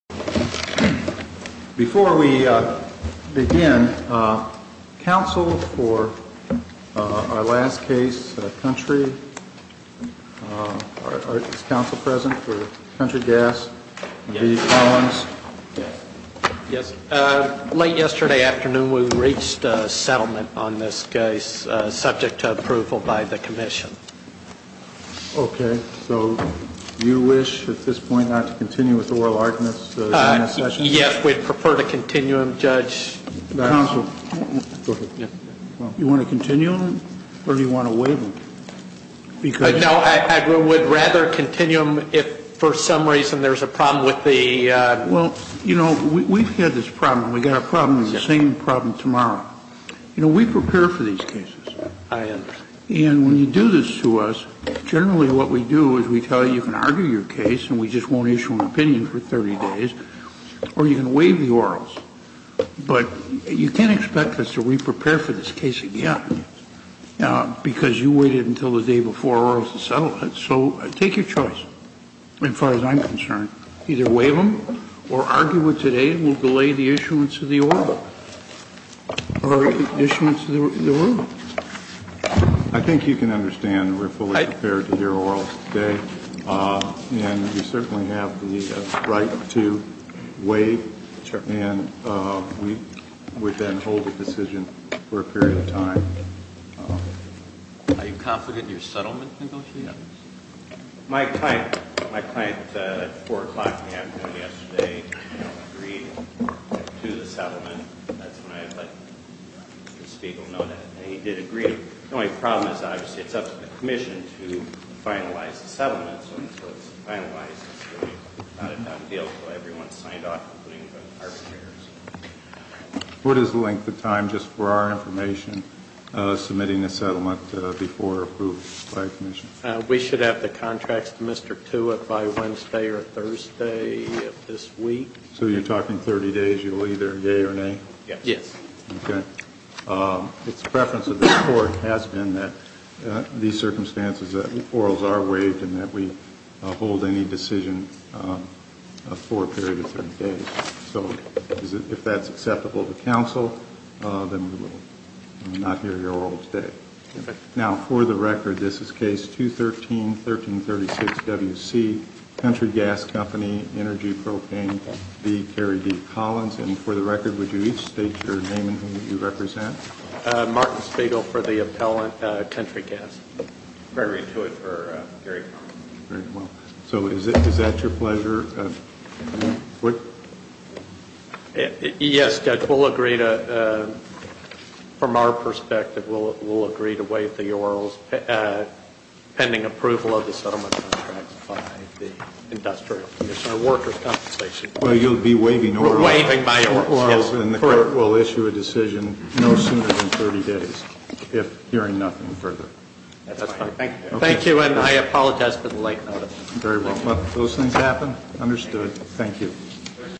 Before we begin, counsel for our last case, Country, is counsel present for Country Gas? Yes. Late yesterday afternoon we reached a settlement on this case subject to approval by the commission. Okay. So you wish at this point not to continue with the oral arguments in this session? Yes. We'd prefer to continue them, Judge. Counsel, go ahead. You want to continue them or do you want to waive them? No, I would rather continue them if for some reason there's a problem with the Well, you know, we've had this problem. We've got a problem with the same problem tomorrow. You know, we prepare for these cases. I understand. And when you do this to us, generally what we do is we tell you you can argue your case and we just won't issue an opinion for 30 days or you can waive the orals. But you can't expect us to reprepare for this case again because you waited until the day before or else the settlement. So take your choice as far as I'm concerned. Either waive them or argue it today will delay the issuance of the oral or the issuance of the oral. I think you can understand we're fully prepared to hear orals today. And we certainly have the right to waive. And we would then hold the decision for a period of time. Are you confident your settlement negotiates? My client at 4 o'clock in the afternoon yesterday agreed to the settlement. That's when I let the Speaker know that he did agree. The only problem is obviously it's up to the Commission to finalize the settlement. So until it's finalized, it's really not a done deal until everyone's signed off, including the arbitrators. What is the length of time, just for our information, submitting a settlement before approval by the Commission? We should have the contracts to Mr. Tewitt by Wednesday or Thursday of this week. So you're talking 30 days, you'll either yay or nay? Yes. Okay. The preference of this Court has been that these circumstances, that orals are waived and that we hold any decision for a period of 30 days. So if that's acceptable to counsel, then we will not hear your oral today. Now, for the record, this is Case 213-1336WC, Country Gas Company, Energy Propane, B. Gary D. Collins. And for the record, would you each state your name and who you represent? Martin Spiegel for the appellant, Country Gas. Gregory Tewitt for Gary Collins. Very well. So is that your pleasure? Yes, Judge. From our perspective, we'll agree to waive the orals pending approval of the settlement contracts by the Industrial Commission or workers' compensation. Well, you'll be waiving orals. Waiving my orals, yes. Correct. And the Court will issue a decision no sooner than 30 days if hearing nothing further. That's fine. Thank you, and I apologize for the late notice. Very well. Let those things happen. Understood. Thank you.